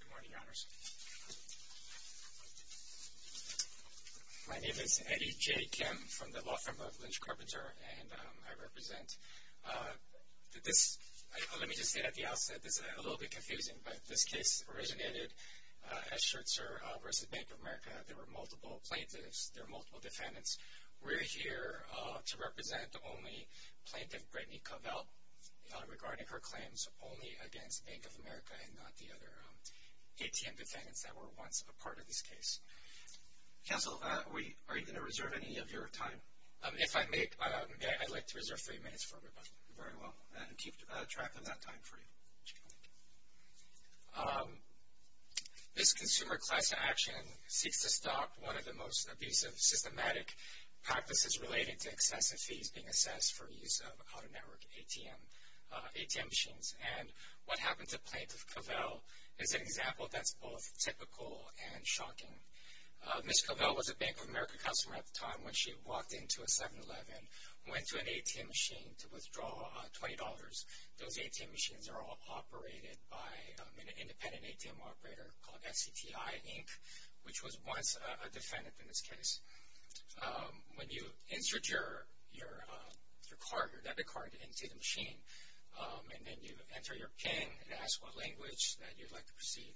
Good morning, Your Honors. My name is Eddie J. Kim from the law firm of Lynch Carpenter and I represent this, let me just say at the outset, this is a little bit confusing, but this case originated as Schertzer v. Bank of America. There were multiple plaintiffs, there were multiple defendants. We're here to represent the only plaintiff, Brittany Covell, regarding her claims only against Bank of America and not the other ATM defendants that were once a part of this case. Counsel, are you going to reserve any of your time? If I may, I'd like to reserve three minutes for rebuttal. Very well, and keep track of that time for you. This consumer class action seeks to stop one of the most abusive systematic practices related to excessive fees being assessed for use of auto network ATM machines. What happened to Plaintiff Covell is an example that's both typical and shocking. Ms. Covell was a Bank of America customer at the time when she walked into a 7-Eleven, went to an ATM machine to withdraw $20. Those ATM machines are all operated by an independent ATM operator called SCTI, Inc., which was once a defendant in this case. When you insert your debit card into the machine and then you enter your PIN and ask what language that you'd like to proceed,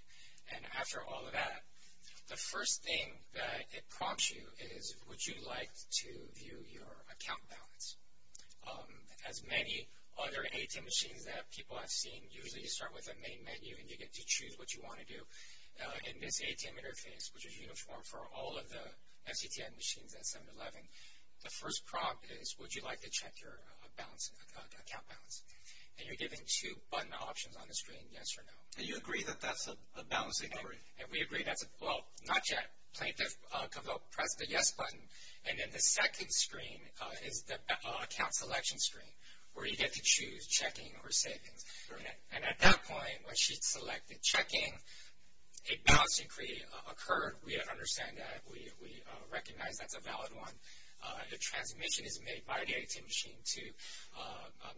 and after all of that, the first thing that it prompts you is would you like to view your account balance. As many other ATM machines that people have in the main menu and you get to choose what you want to do, in this ATM interface, which is uniform for all of the SCTI machines at 7-Eleven, the first prompt is would you like to check your account balance. And you're given two button options on the screen, yes or no. And you agree that that's a balancing error? And we agree that's a, well, not yet. Plaintiff Covell pressed the yes button, and then the second screen is the account selection screen, where you get to choose checking or savings. And at that point, when she selected checking, a balance inquiry occurred. We understand that. We recognize that's a valid one. The transmission is made by the ATM machine to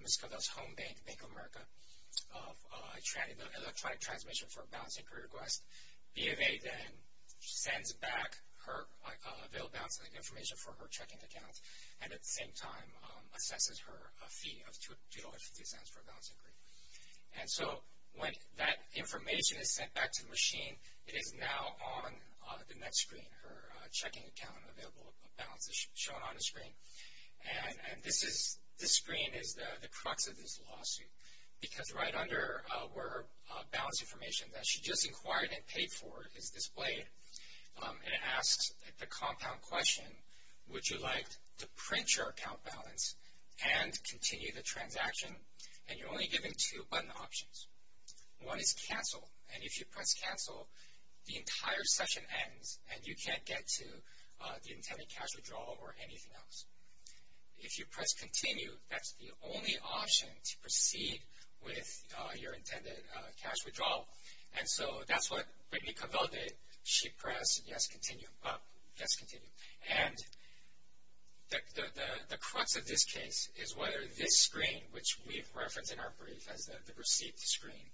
Ms. Covell's home bank, Bank of America, of electronic transmission for a balance inquiry request. B of A then sends back her available balance information for her checking account, and at the same time, assesses her fee of $2.50 for a balance inquiry. And so, when that information is sent back to the machine, it is now on the next screen, her checking account available balance is shown on the screen. And this is, this screen is the crux of this lawsuit. Because right under where her balance information that she just inquired and paid for is displayed, it asks the compound question, would you like to print your account balance and continue the transaction? And you're only given two button options. One is cancel, and if you press cancel, the entire session ends, and you can't get to the intended cash withdrawal or anything else. If you press continue, that's the only option to proceed with your intended cash withdrawal. And so, that's what Brittany Covell did. She pressed yes, continue, up, yes, continue. And the crux of this case is whether this screen, which we've referenced in our brief as the receipt screen,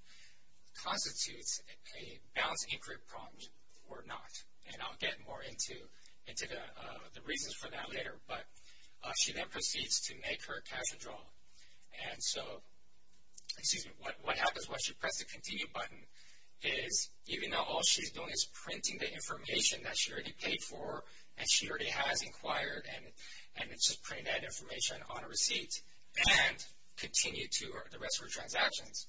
constitutes a balance inquiry prompt or not. And I'll get more into the reasons for that later. But she then proceeds to make her cash withdrawal. And so, excuse me, what happens once you press the continue button is, even though all she's doing is printing the information that she already paid for, and she already has inquired, and it's just printing that information on a receipt, and continue to the rest of her transactions.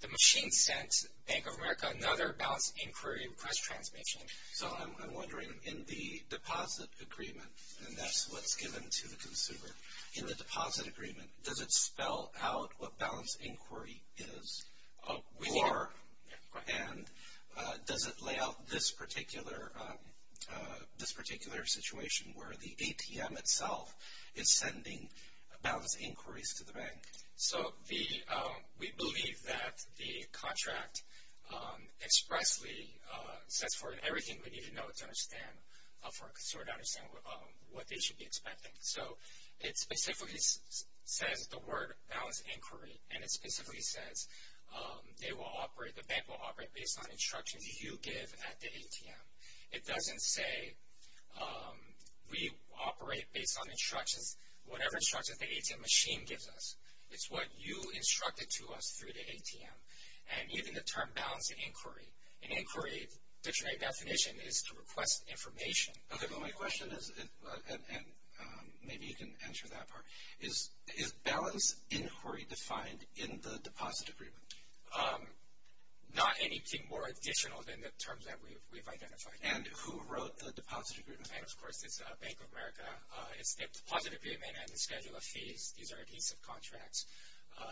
The machine sent Bank of America another balance inquiry request transmission. So, I'm wondering, in the deposit agreement, and that's what's given to the consumer, in the deposit agreement, does it spell out what balance inquiry is? And does it lay out this particular situation where the ATM itself is sending balance inquiries to the bank? So, we believe that the contract expressly sets forth everything we need to know to understand for a consumer to understand what they should be expecting. So, it specifically says the word balance inquiry, and it specifically says they will operate, the bank will operate based on instructions you give at the ATM. It doesn't say we operate based on instructions, whatever instructions the ATM machine gives us. It's what you instructed to us through the ATM. And even the term balance inquiry, an inquiry dictionary definition is to request information. Okay, but my question is, and maybe you can answer that part, is balance inquiry defined in the deposit agreement? Not anything more additional than the terms that we've identified. And who wrote the deposit agreement? Bank of America. It's the deposit agreement and the schedule of fees. These are adhesive contracts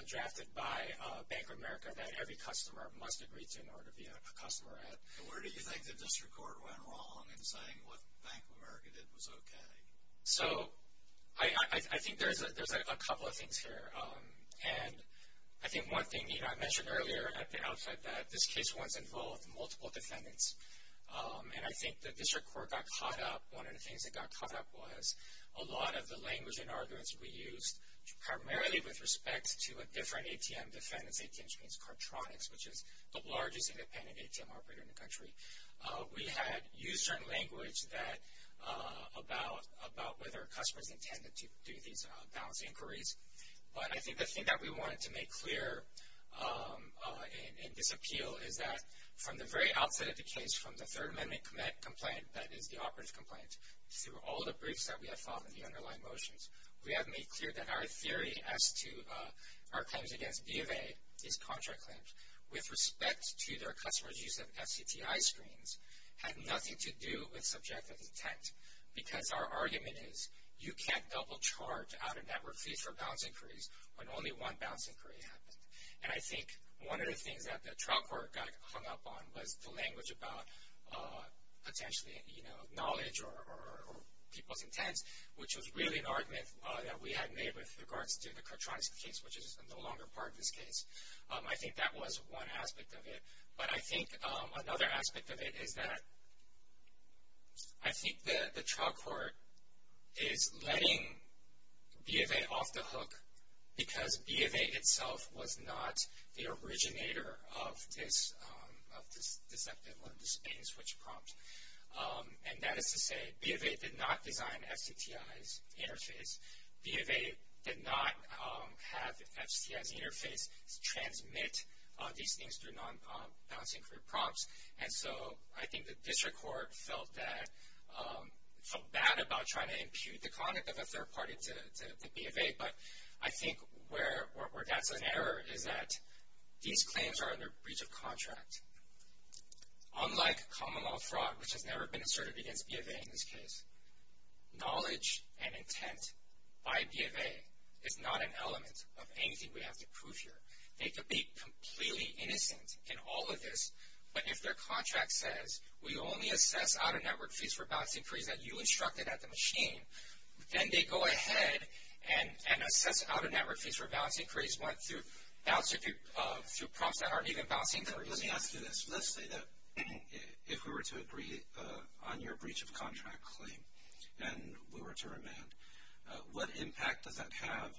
drafted by Bank of America that every customer must agree to in order to be a customer at. And where do you think the district court went wrong in saying what Bank of America did was okay? So, I think there's a couple of things here. And I think one thing, you know, I mentioned earlier at the outset that this case was involved with multiple defendants. And I think the district court got caught up, one of the things that got caught up was a lot of the language and arguments we used, primarily with respect to a different ATM defendant's ATM, which is the largest independent ATM operator in the country. We had used certain language that, about whether a customer is intended to do these balance inquiries. But I think the thing that we wanted to make clear in this appeal is that from the very outset of the case, from the Third Amendment complaint, that is the operative complaint, through all the briefs that we have filed and the underlying motions, we have made clear that our theory as to our claims against B of A, these contract claims, with respect to their customer's use of SCTI screens, had nothing to do with subjective intent. Because our argument is, you can't double charge out-of-network fees for balance inquiries when only one balance inquiry happened. And I think one of the things that the trial court got hung up on was the language about potentially, you know, knowledge or people's intents, which was really an argument that we had made with regards to the Katronis case, which is no longer part of this case. I think that was one aspect of it. But I think another aspect of it is that I think the trial court is letting B of A off the hook because B of A itself was not the originator of this deceptive or this bait-and-switch prompt. And that is to say, B of A did not design FCTI's interface. B of A did not have FCTI's interface transmit these things through non-balance inquiry prompts. And so I think the district court felt that, felt bad about trying to impute the conduct of a third party to B of A. But I think where that's an error is that these claims are under breach of contract. Unlike common law fraud, which has never been acknowledged and intent by B of A, is not an element of anything we have to prove here. They could be completely innocent in all of this, but if their contract says, we only assess out-of-network fees for balance inquiries that you instructed at the machine, then they go ahead and assess out-of-network fees for balance inquiries through prompts that aren't even balance inquiries. Let me ask you this. Let's say that if we were to agree on your breach of contract claim and we were to remand, what impact does that have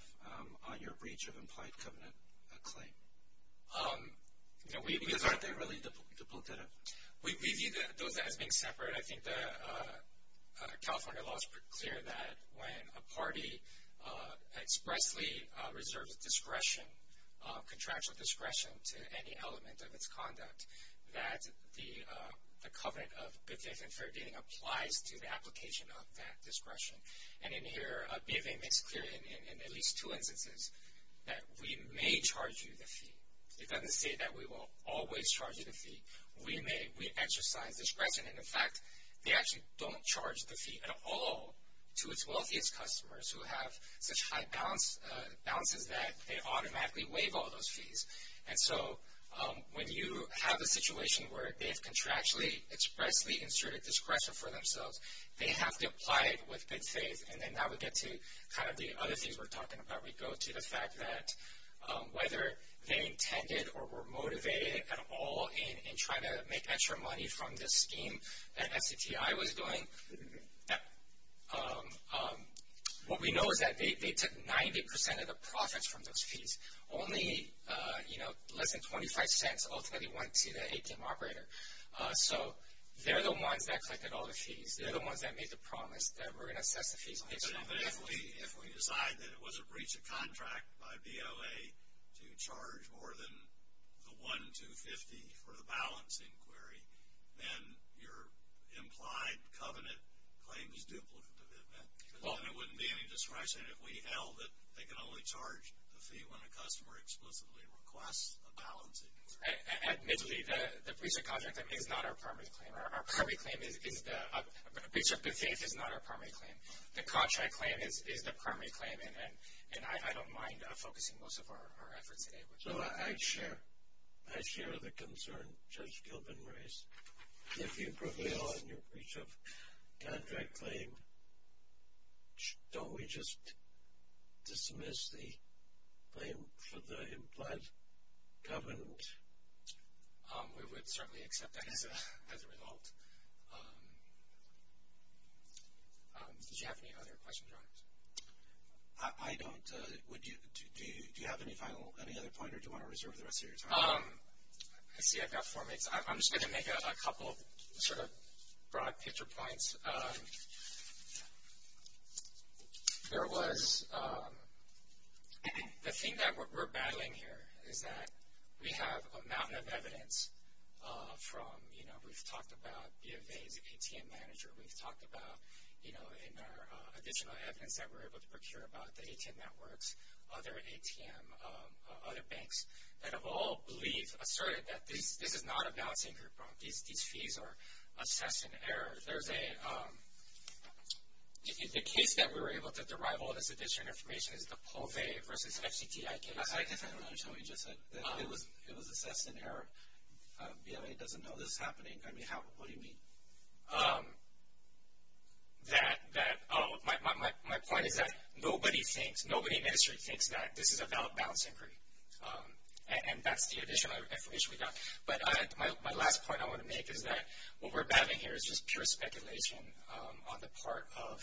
on your breach of implied covenant claim? Because aren't they really duplicative? We view those as being separate. I think the California law is pretty clear that when a the covenant of good faith and fair dating applies to the application of that discretion. And in here, B of A makes clear in at least two instances that we may charge you the fee. It doesn't say that we will always charge you the fee. We exercise discretion, and in fact, they actually don't charge the fee at all to its wealthiest customers who have such high balances that they automatically waive all those fees. And so when you have a situation where they've contractually expressly inserted discretion for themselves, they have to apply it with good faith. And then that would get to kind of the other things we're talking about. We go to the fact that whether they intended or were motivated at all in trying to make extra money from this scheme that SCGI was doing, what we know is that they took 90% of the profits from those fees. Only, you know, less than 25 cents ultimately went to the ATM operator. So they're the ones that collected all the fees. They're the ones that made the promise that we're going to assess the fees. But if we decide that it was a breach of contract by BOA to charge more than the $1,250 for the balance inquiry, then your implied covenant claim is duplicative, isn't it? Because then it wouldn't be any discretion if we held that they can only charge the fee when a customer explicitly requests a balance inquiry. Admittedly, the breach of contract is not our primary claim. A breach of good faith is not our primary claim. The contract claim is the primary claim, and I don't mind focusing most of our efforts today. So I share the concern Judge Gilbin raised. If you prevail on your breach of contract claim, don't we just dismiss the claim for the implied covenant? We would certainly accept that as a result. Did you have any other questions or comments? I don't. Do you have any final, any other point, or do you want to reserve the rest of your time? I see I've got four minutes. I'm just going to make a couple sort of broad picture points. There was the thing that we're battling here is that we have a mountain of evidence from, you know, we've talked about BFA's ATM manager. We've talked about, you know, in our additional evidence that we're able to procure about the ATM networks, other ATM, other banks that have all believed, asserted that this is not a balancing group. These fees are assessed in error. There's a, the case that we were able to derive all this additional information is the POVE versus FCTI case. I guess I don't understand what you just said. It was assessed in error. BFA doesn't know this is happening. I mean, what do you mean? That, oh, my point is that nobody thinks, nobody in the ministry thinks that this is a valid balancing group, and that's the additional information we got. But my last point I want to make is that what we're battling here is just pure speculation on the part of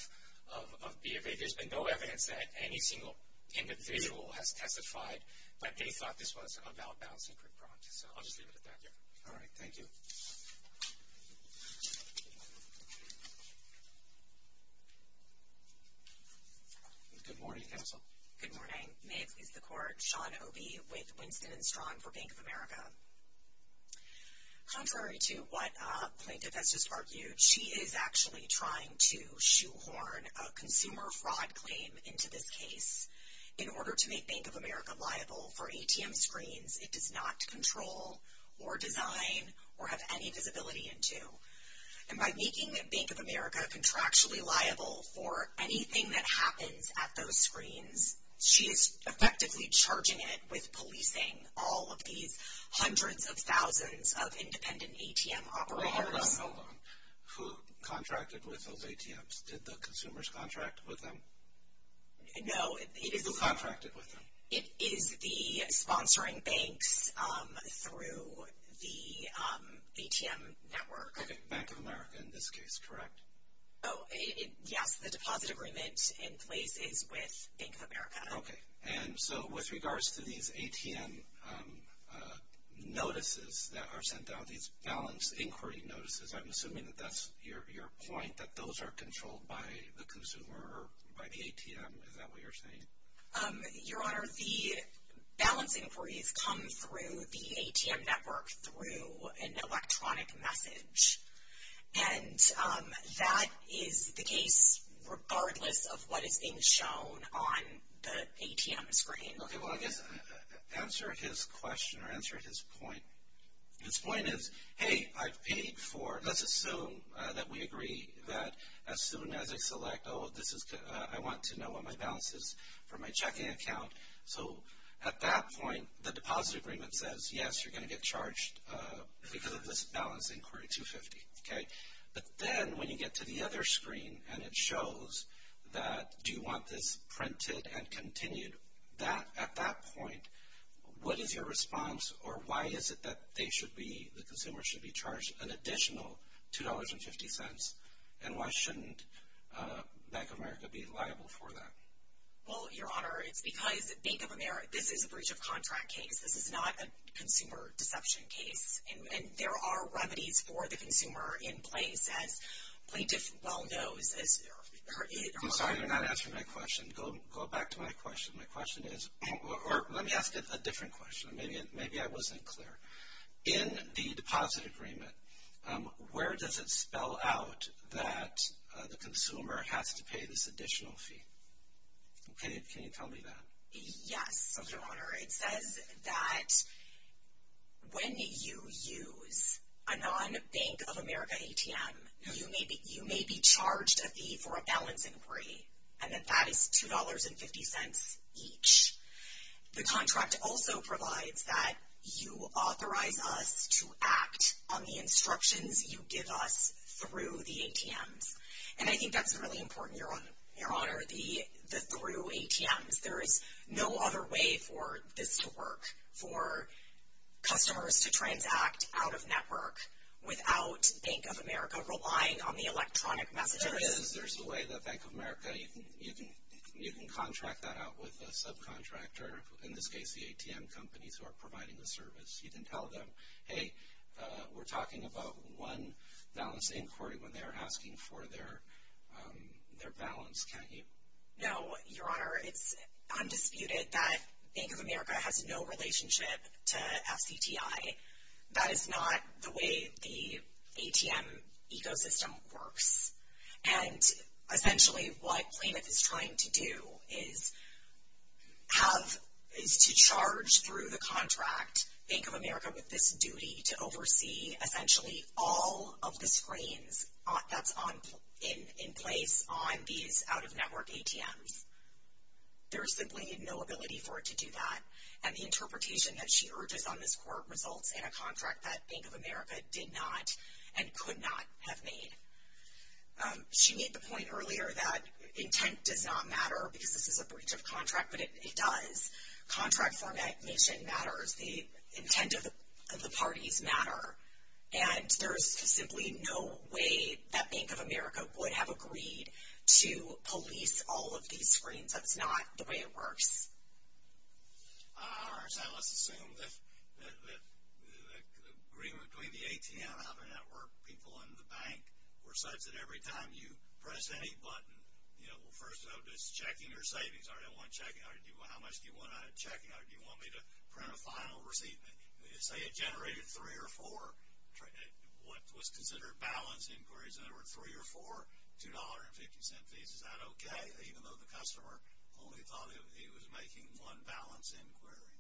BFA. There's been no evidence that any single individual has testified that they thought this was a valid balancing group. So I'll just leave it at that. All right. Thank you. Good morning, counsel. Good morning. May it please the Court. Shawn Obey with Winston and Strong for Bank of America. Contrary to what plaintiff has just argued, she is actually trying to shoehorn a consumer fraud claim into this case. In order to make Bank of America liable for ATM screens, it does not control or design or have any visibility into. And by making Bank of America contractually liable for anything that happens at those screens, she is effectively charging it with policing all of these hundreds of thousands of independent ATM operators. Hold on, hold on. Who contracted with those ATMs? Did the consumers contract with them? No. Who contracted with them? It is the sponsoring banks through the ATM network. Okay. Bank of America in this case, correct? Yes. The deposit agreement in place is with Bank of America. Okay. And so with regards to these ATM notices that are sent out, these balance inquiry notices, I'm assuming that that's your point, that those are controlled by the consumer or by the ATM. Is that what you're saying? Your Honor, the balance inquiries come through the ATM network through an electronic message. And that is the case regardless of what is being shown on the ATM screen. Okay. Well, I guess answer his question or answer his point. His point is, hey, I've paid for, let's assume that we agree that as soon as I select, oh, I want to know what my balance is for my checking account. So at that point, the deposit agreement says, yes, you're going to get charged because of this balance inquiry 250. Okay. But then when you get to the other screen and it shows that do you want this printed and continued, at that point, what is your response or why is it that they should be, the consumer should be charged an additional $2.50, and why shouldn't Bank of America be liable for that? Well, Your Honor, it's because Bank of America, this is a breach of contract case. This is not a consumer deception case. And there are remedies for the consumer in place as plaintiff well knows. I'm sorry you're not answering my question. Go back to my question. My question is, or let me ask a different question. Maybe I wasn't clear. In the deposit agreement, where does it spell out that the consumer has to pay this additional fee? Okay. Can you tell me that? Yes, Your Honor. It says that when you use a non-Bank of America ATM, you may be charged a fee for a balance inquiry, and that that is $2.50 each. The contract also provides that you authorize us to act on the instructions you give us through the ATMs. And I think that's really important, Your Honor, the through ATMs. There is no other way for this to work, for customers to transact out of network without Bank of America relying on the electronic messages. There is a way that Bank of America, you can contract that out with a subcontractor, in this case the ATM companies who are providing the service. You can tell them, hey, we're talking about one balance inquiry when they're asking for their balance, can't you? No, Your Honor. It's undisputed that Bank of America has no relationship to FCTI. That is not the way the ATM ecosystem works. And essentially what Plymouth is trying to do is to charge through the contract Bank of America with this duty to oversee essentially all of the screens that's in place on these out-of-network ATMs. There is simply no ability for it to do that. And the interpretation that she urges on this court results in a contract that Bank of America did not and could not have made. She made the point earlier that intent does not matter because this is a breach of contract, but it does. Contract formation matters. The intent of the parties matter. And there's simply no way that Bank of America would have agreed to police all of these screens. That's not the way it works. All right. So let's assume that the agreement between the ATM out-of-network people and the bank were such that every time you press any button, you know, first of all, just checking your savings. All right, I want to check it. All right, how much do you want out of checking? All right, do you want me to print a final receipt? Say it generated three or four what was considered balance inquiries. In other words, three or four $2.50 fees. Is that okay, even though the customer only thought he was making one balance inquiry?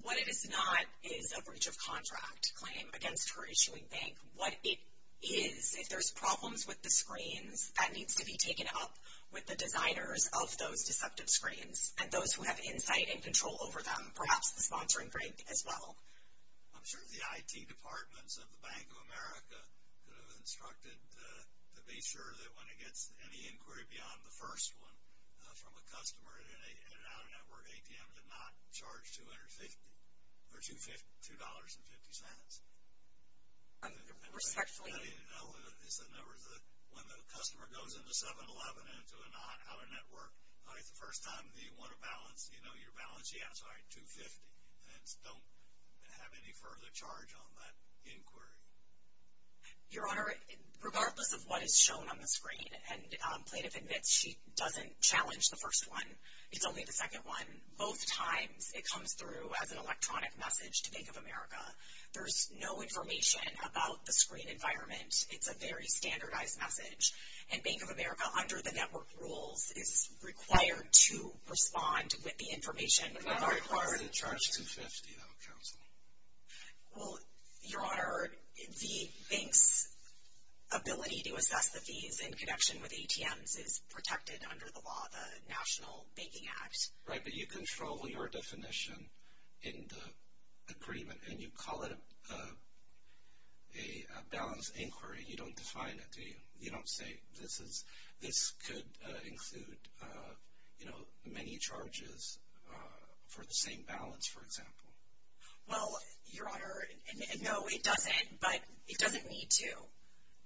What it is not is a breach of contract claim against her issuing bank. What it is, if there's problems with the screens, that needs to be taken up with the designers of those deceptive screens and those who have insight and control over them, perhaps the sponsoring bank as well. I'm sure the IT departments of the Bank of America could have instructed to be sure that when it gets any inquiry beyond the first one, from a customer at an out-of-network ATM, to not charge $2.50. When the customer goes into 7-Eleven and into an out-of-network, it's the first time that you want to balance, you know, your balance. Yeah, I'm sorry, $2.50. And don't have any further charge on that inquiry. Your Honor, regardless of what is shown on the screen, and plaintiff admits she doesn't challenge the first one. It's only the second one. Both times it comes through as an electronic message to Bank of America. There's no information about the screen environment. It's a very standardized message. And Bank of America, under the network rules, is required to respond with the information. Not required to charge $2.50, though, counsel. Well, Your Honor, the bank's ability to assess the fees in connection with ATMs is protected under the law, the National Banking Act. Right, but you control your definition in the agreement. And you call it a balance inquiry. You don't define it, do you? You don't say this could include, you know, many charges for the same balance, for example. Well, Your Honor, no, it doesn't. But it doesn't need to.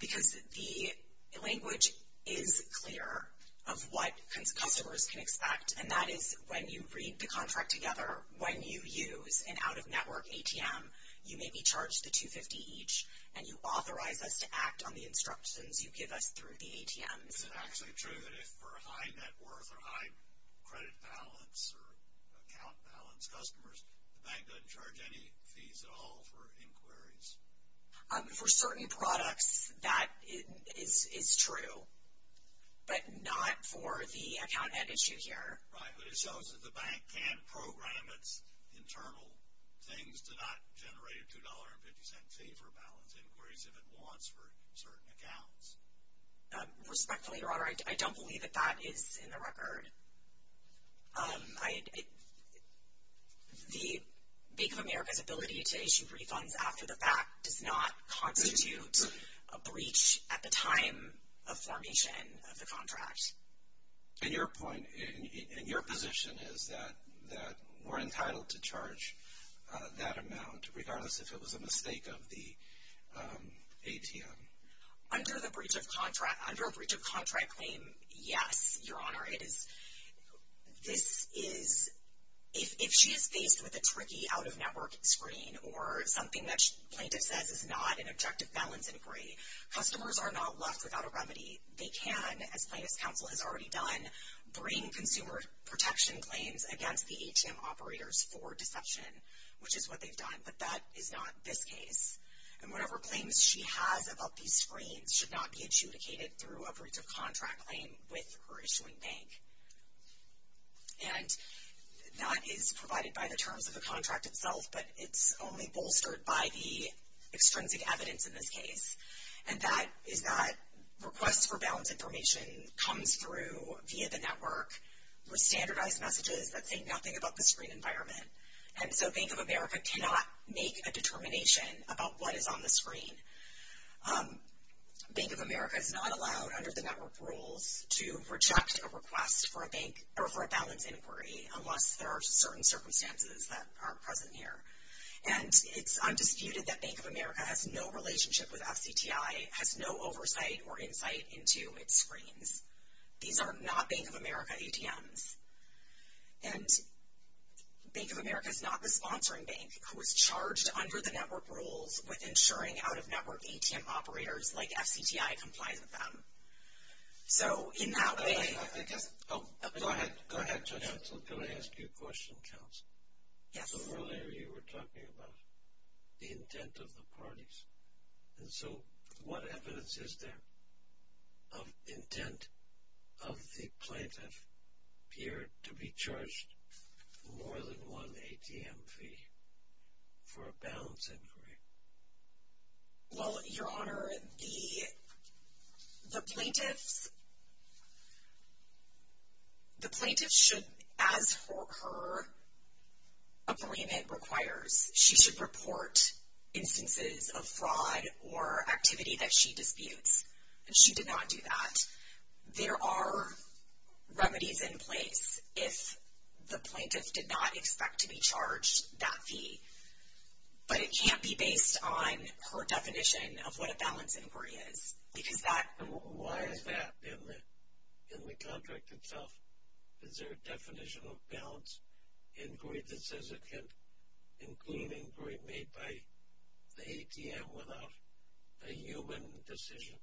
Because the language is clear of what customers can expect. And that is when you read the contract together, when you use an out-of-network ATM, you may be charged the $2.50 each. And you authorize us to act on the instructions you give us through the ATMs. Is it actually true that if for high net worth or high credit balance or account balance customers, the bank doesn't charge any fees at all for inquiries? For certain products, that is true. But not for the account end issue here. Right, but it shows that the bank can program its internal things to not generate a $2.50 fee for balance inquiries if it wants for certain accounts. Respectfully, Your Honor, I don't believe that that is in the record. The Bank of America's ability to issue refunds after the fact does not constitute a breach at the time of formation of the contract. And your point, and your position is that we're entitled to charge that amount, regardless if it was a mistake of the ATM. Under a breach of contract claim, yes, Your Honor. If she is faced with a tricky out-of-network screen or something that plaintiff says is not an objective balance inquiry, customers are not left without a remedy. They can, as Plaintiff's Counsel has already done, bring consumer protection claims against the ATM operators for deception, which is what they've done. But that is not this case. And whatever claims she has about these screens should not be adjudicated through a breach of contract claim with her issuing bank. And that is provided by the terms of the contract itself, but it's only bolstered by the extrinsic evidence in this case. And that is that requests for balance information comes through via the network with standardized messages that say nothing about the screen environment. And so Bank of America cannot make a determination about what is on the screen. Bank of America is not allowed under the network rules to reject a request for a balance inquiry unless there are certain circumstances that are present here. And it's undisputed that Bank of America has no relationship with FCTI, has no oversight or insight into its screens. These are not Bank of America ATMs. And Bank of America is not the sponsoring bank who is charged under the network rules with insuring out-of-network ATM operators like FCTI complies with them. So, in that way. Go ahead. Go ahead, Counsel. Can I ask you a question, Counsel? Yes. Earlier you were talking about the intent of the parties. And so, what evidence is there of intent of the plaintiff here to be charged more than one ATM fee for a balance inquiry? Well, Your Honor, the plaintiff should, as her appointment requires, she should report instances of fraud or activity that she disputes. And she did not do that. There are remedies in place if the plaintiff did not expect to be charged that fee. But it can't be based on her definition of what a balance inquiry is. Because that. And why is that in the contract itself? Is there a definition of balance inquiry that says it can't include an inquiry made by the ATM without a human decision?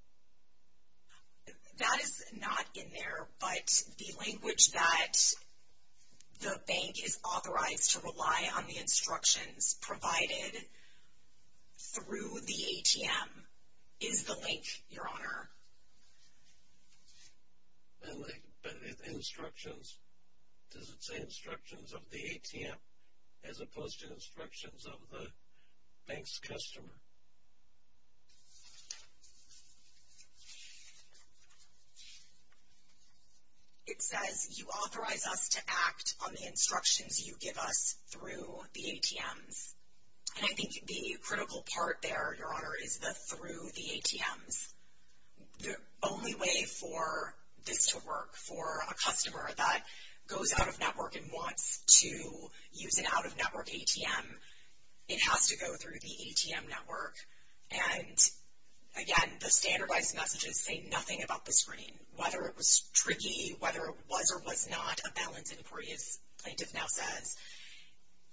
That is not in there. But the language that the bank is authorized to rely on the instructions provided through the ATM is the link, Your Honor. Instructions. Does it say instructions of the ATM as opposed to instructions of the bank's customer? It says you authorize us to act on the instructions you give us through the ATMs. And I think the critical part there, Your Honor, is the through the ATMs. The only way for this to work for a customer that goes out of network and wants to use an out-of-network ATM, it has to go through the ATM network. And, again, the standardized messages say nothing about the screen. Whether it was tricky, whether it was or was not a balance inquiry, as the plaintiff now says,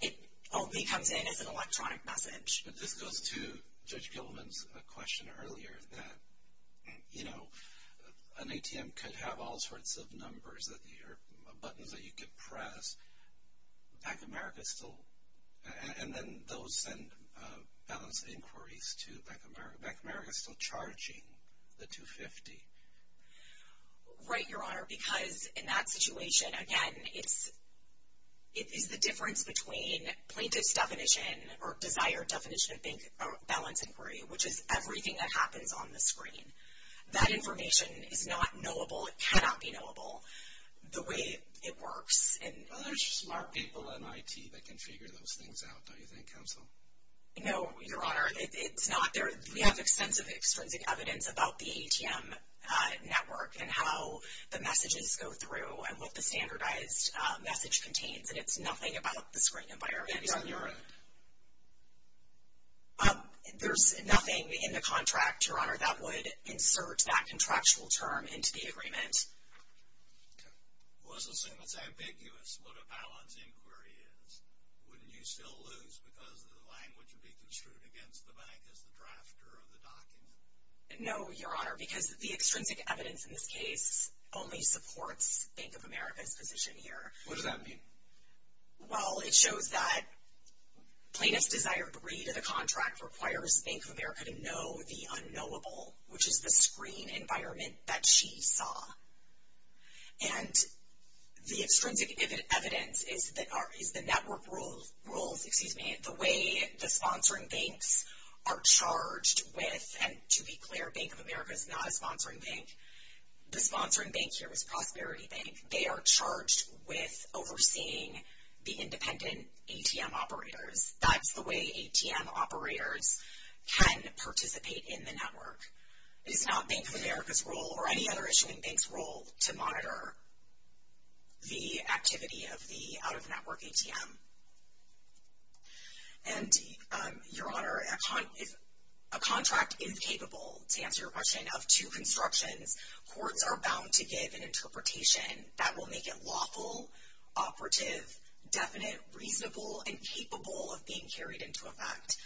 it only comes in as an electronic message. But this goes to Judge Gilman's question earlier that, you know, an ATM could have all sorts of numbers or buttons that you could press. Bank of America is still, and then those send balance inquiries to Bank of America. Bank of America is still charging the 250. Right, Your Honor, because in that situation, again, it is the difference between plaintiff's definition or desired definition of balance inquiry, which is everything that happens on the screen. That information is not knowable. It cannot be knowable the way it works. Well, there's smart people in IT that can figure those things out, don't you think, Counsel? No, Your Honor, it's not. We have extensive extrinsic evidence about the ATM network and how the messages go through and what the standardized message contains. And it's nothing about the screen environment. It is on your end. There's nothing in the contract, Your Honor, that would insert that contractual term into the agreement. Okay. Well, let's assume it's ambiguous what a balance inquiry is. Wouldn't you still lose because the language would be construed against the bank as the drafter of the document? No, Your Honor, because the extrinsic evidence in this case only supports Bank of America's position here. What does that mean? Well, it shows that plaintiff's desired degree to the contract requires Bank of America to know the unknowable, which is the screen environment that she saw. And the extrinsic evidence is the network rules, excuse me, the way the sponsoring banks are charged with, and to be clear, Bank of America is not a sponsoring bank. The sponsoring bank here was Prosperity Bank. They are charged with overseeing the independent ATM operators. That's the way ATM operators can participate in the network. It is not Bank of America's role or any other issuing bank's role to monitor the activity of the out-of-network ATM. And, Your Honor, a contract is capable, to answer your question, of two constructions. Courts are bound to give an interpretation that will make it lawful, operative, definite, reasonable, and capable of being carried into effect.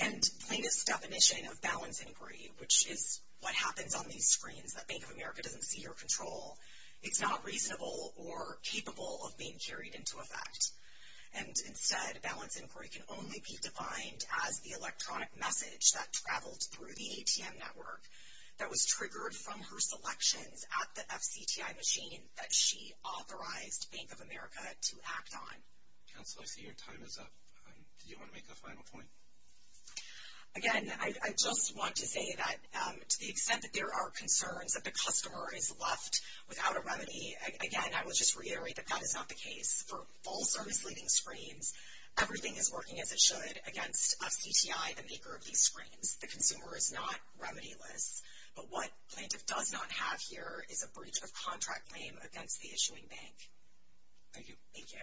And plaintiff's definition of balance inquiry, which is what happens on these screens that Bank of America doesn't see or control, it's not reasonable or capable of being carried into effect. And instead, balance inquiry can only be defined as the electronic message that traveled through the ATM network that was triggered from her selections at the FCTI machine that she authorized Bank of America to act on. Counselor, I see your time is up. Do you want to make a final point? Again, I just want to say that to the extent that there are concerns that the customer is left without a remedy, again, I will just reiterate that that is not the case. For all service-leading screens, everything is working as it should against FCTI, the maker of these screens. The consumer is not remedy-less. But what plaintiff does not have here is a breach of contract claim against the issuing bank. Thank you. Thank you.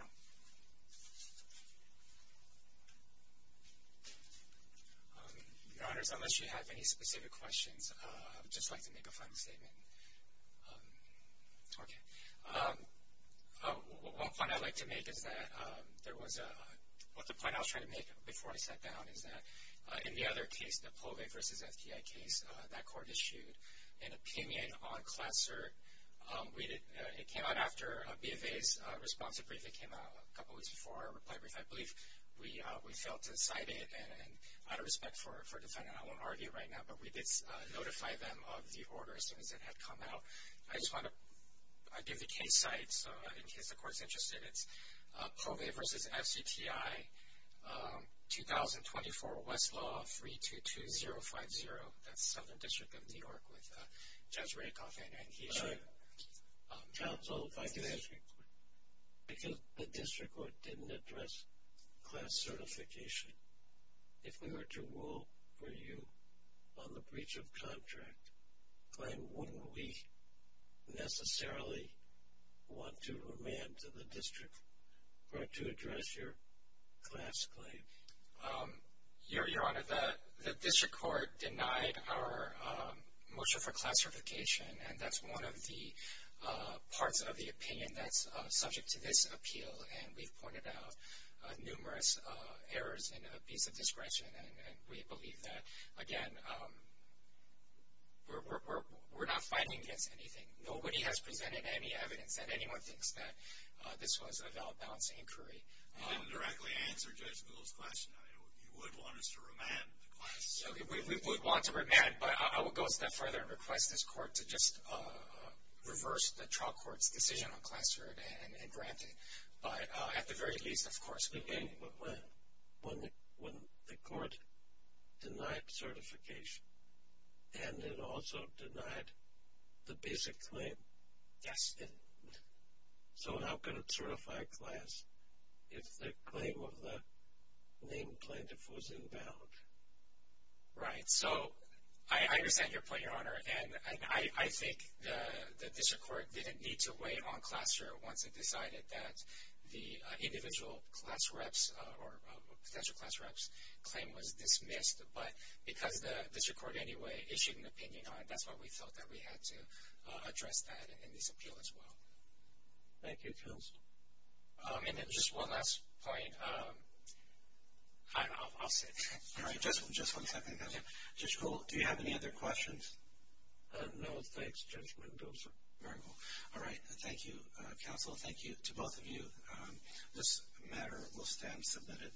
Your Honors, unless you have any specific questions, I would just like to make a final statement. Okay. One point I'd like to make is that there was a – what the point I was trying to make before I sat down is that in the other case, the POVE versus FTI case, that court issued an opinion on Classert. It came out after BFA's responsive brief. It came out a couple weeks before our reply brief. I believe we failed to cite it and out of respect for the defendant, I won't argue right now, but we did notify them of the order as soon as it had come out. I just want to give the case site in case the court is interested. It's POVE versus FCTI, 2024, Westlaw, 322050. That's Southern District of New York with Judge Rakoff and he's counseled by the district court. Because the district court didn't address class certification, if we were to rule for you on the breach of contract claim, wouldn't we necessarily want to remand to the district court to address your class claim? Your Honor, the district court denied our motion for class certification, and that's one of the parts of the opinion that's subject to this appeal, and we've pointed out numerous errors in a piece of discretion, and we believe that, again, we're not fighting against anything. Nobody has presented any evidence that anyone thinks that this was a valid balance inquiry. You didn't directly answer Judge Gould's question. You would want us to remand the class. We would want to remand, but I would go a step further and request this court to just reverse the trial court's decision on class merit and grant it. But at the very least, of course, we would. Again, but when? When the court denied certification, and it also denied the basic claim. Yes. So how could it certify class if the claim of the named plaintiff was inbound? Right. So I understand your point, Your Honor, and I think the district court didn't need to weigh on class merit once it decided that the individual class reps or potential class reps' claim was dismissed, but because the district court anyway issued an opinion on it, that's why we felt that we had to address that in this appeal as well. Thank you, counsel. And then just one last point. I'll sit. All right. Just one second. Judge Gould, do you have any other questions? No, thanks, Judge Mendoza. Very well. All right. Thank you, counsel. Thank you to both of you. This matter will stand submitted.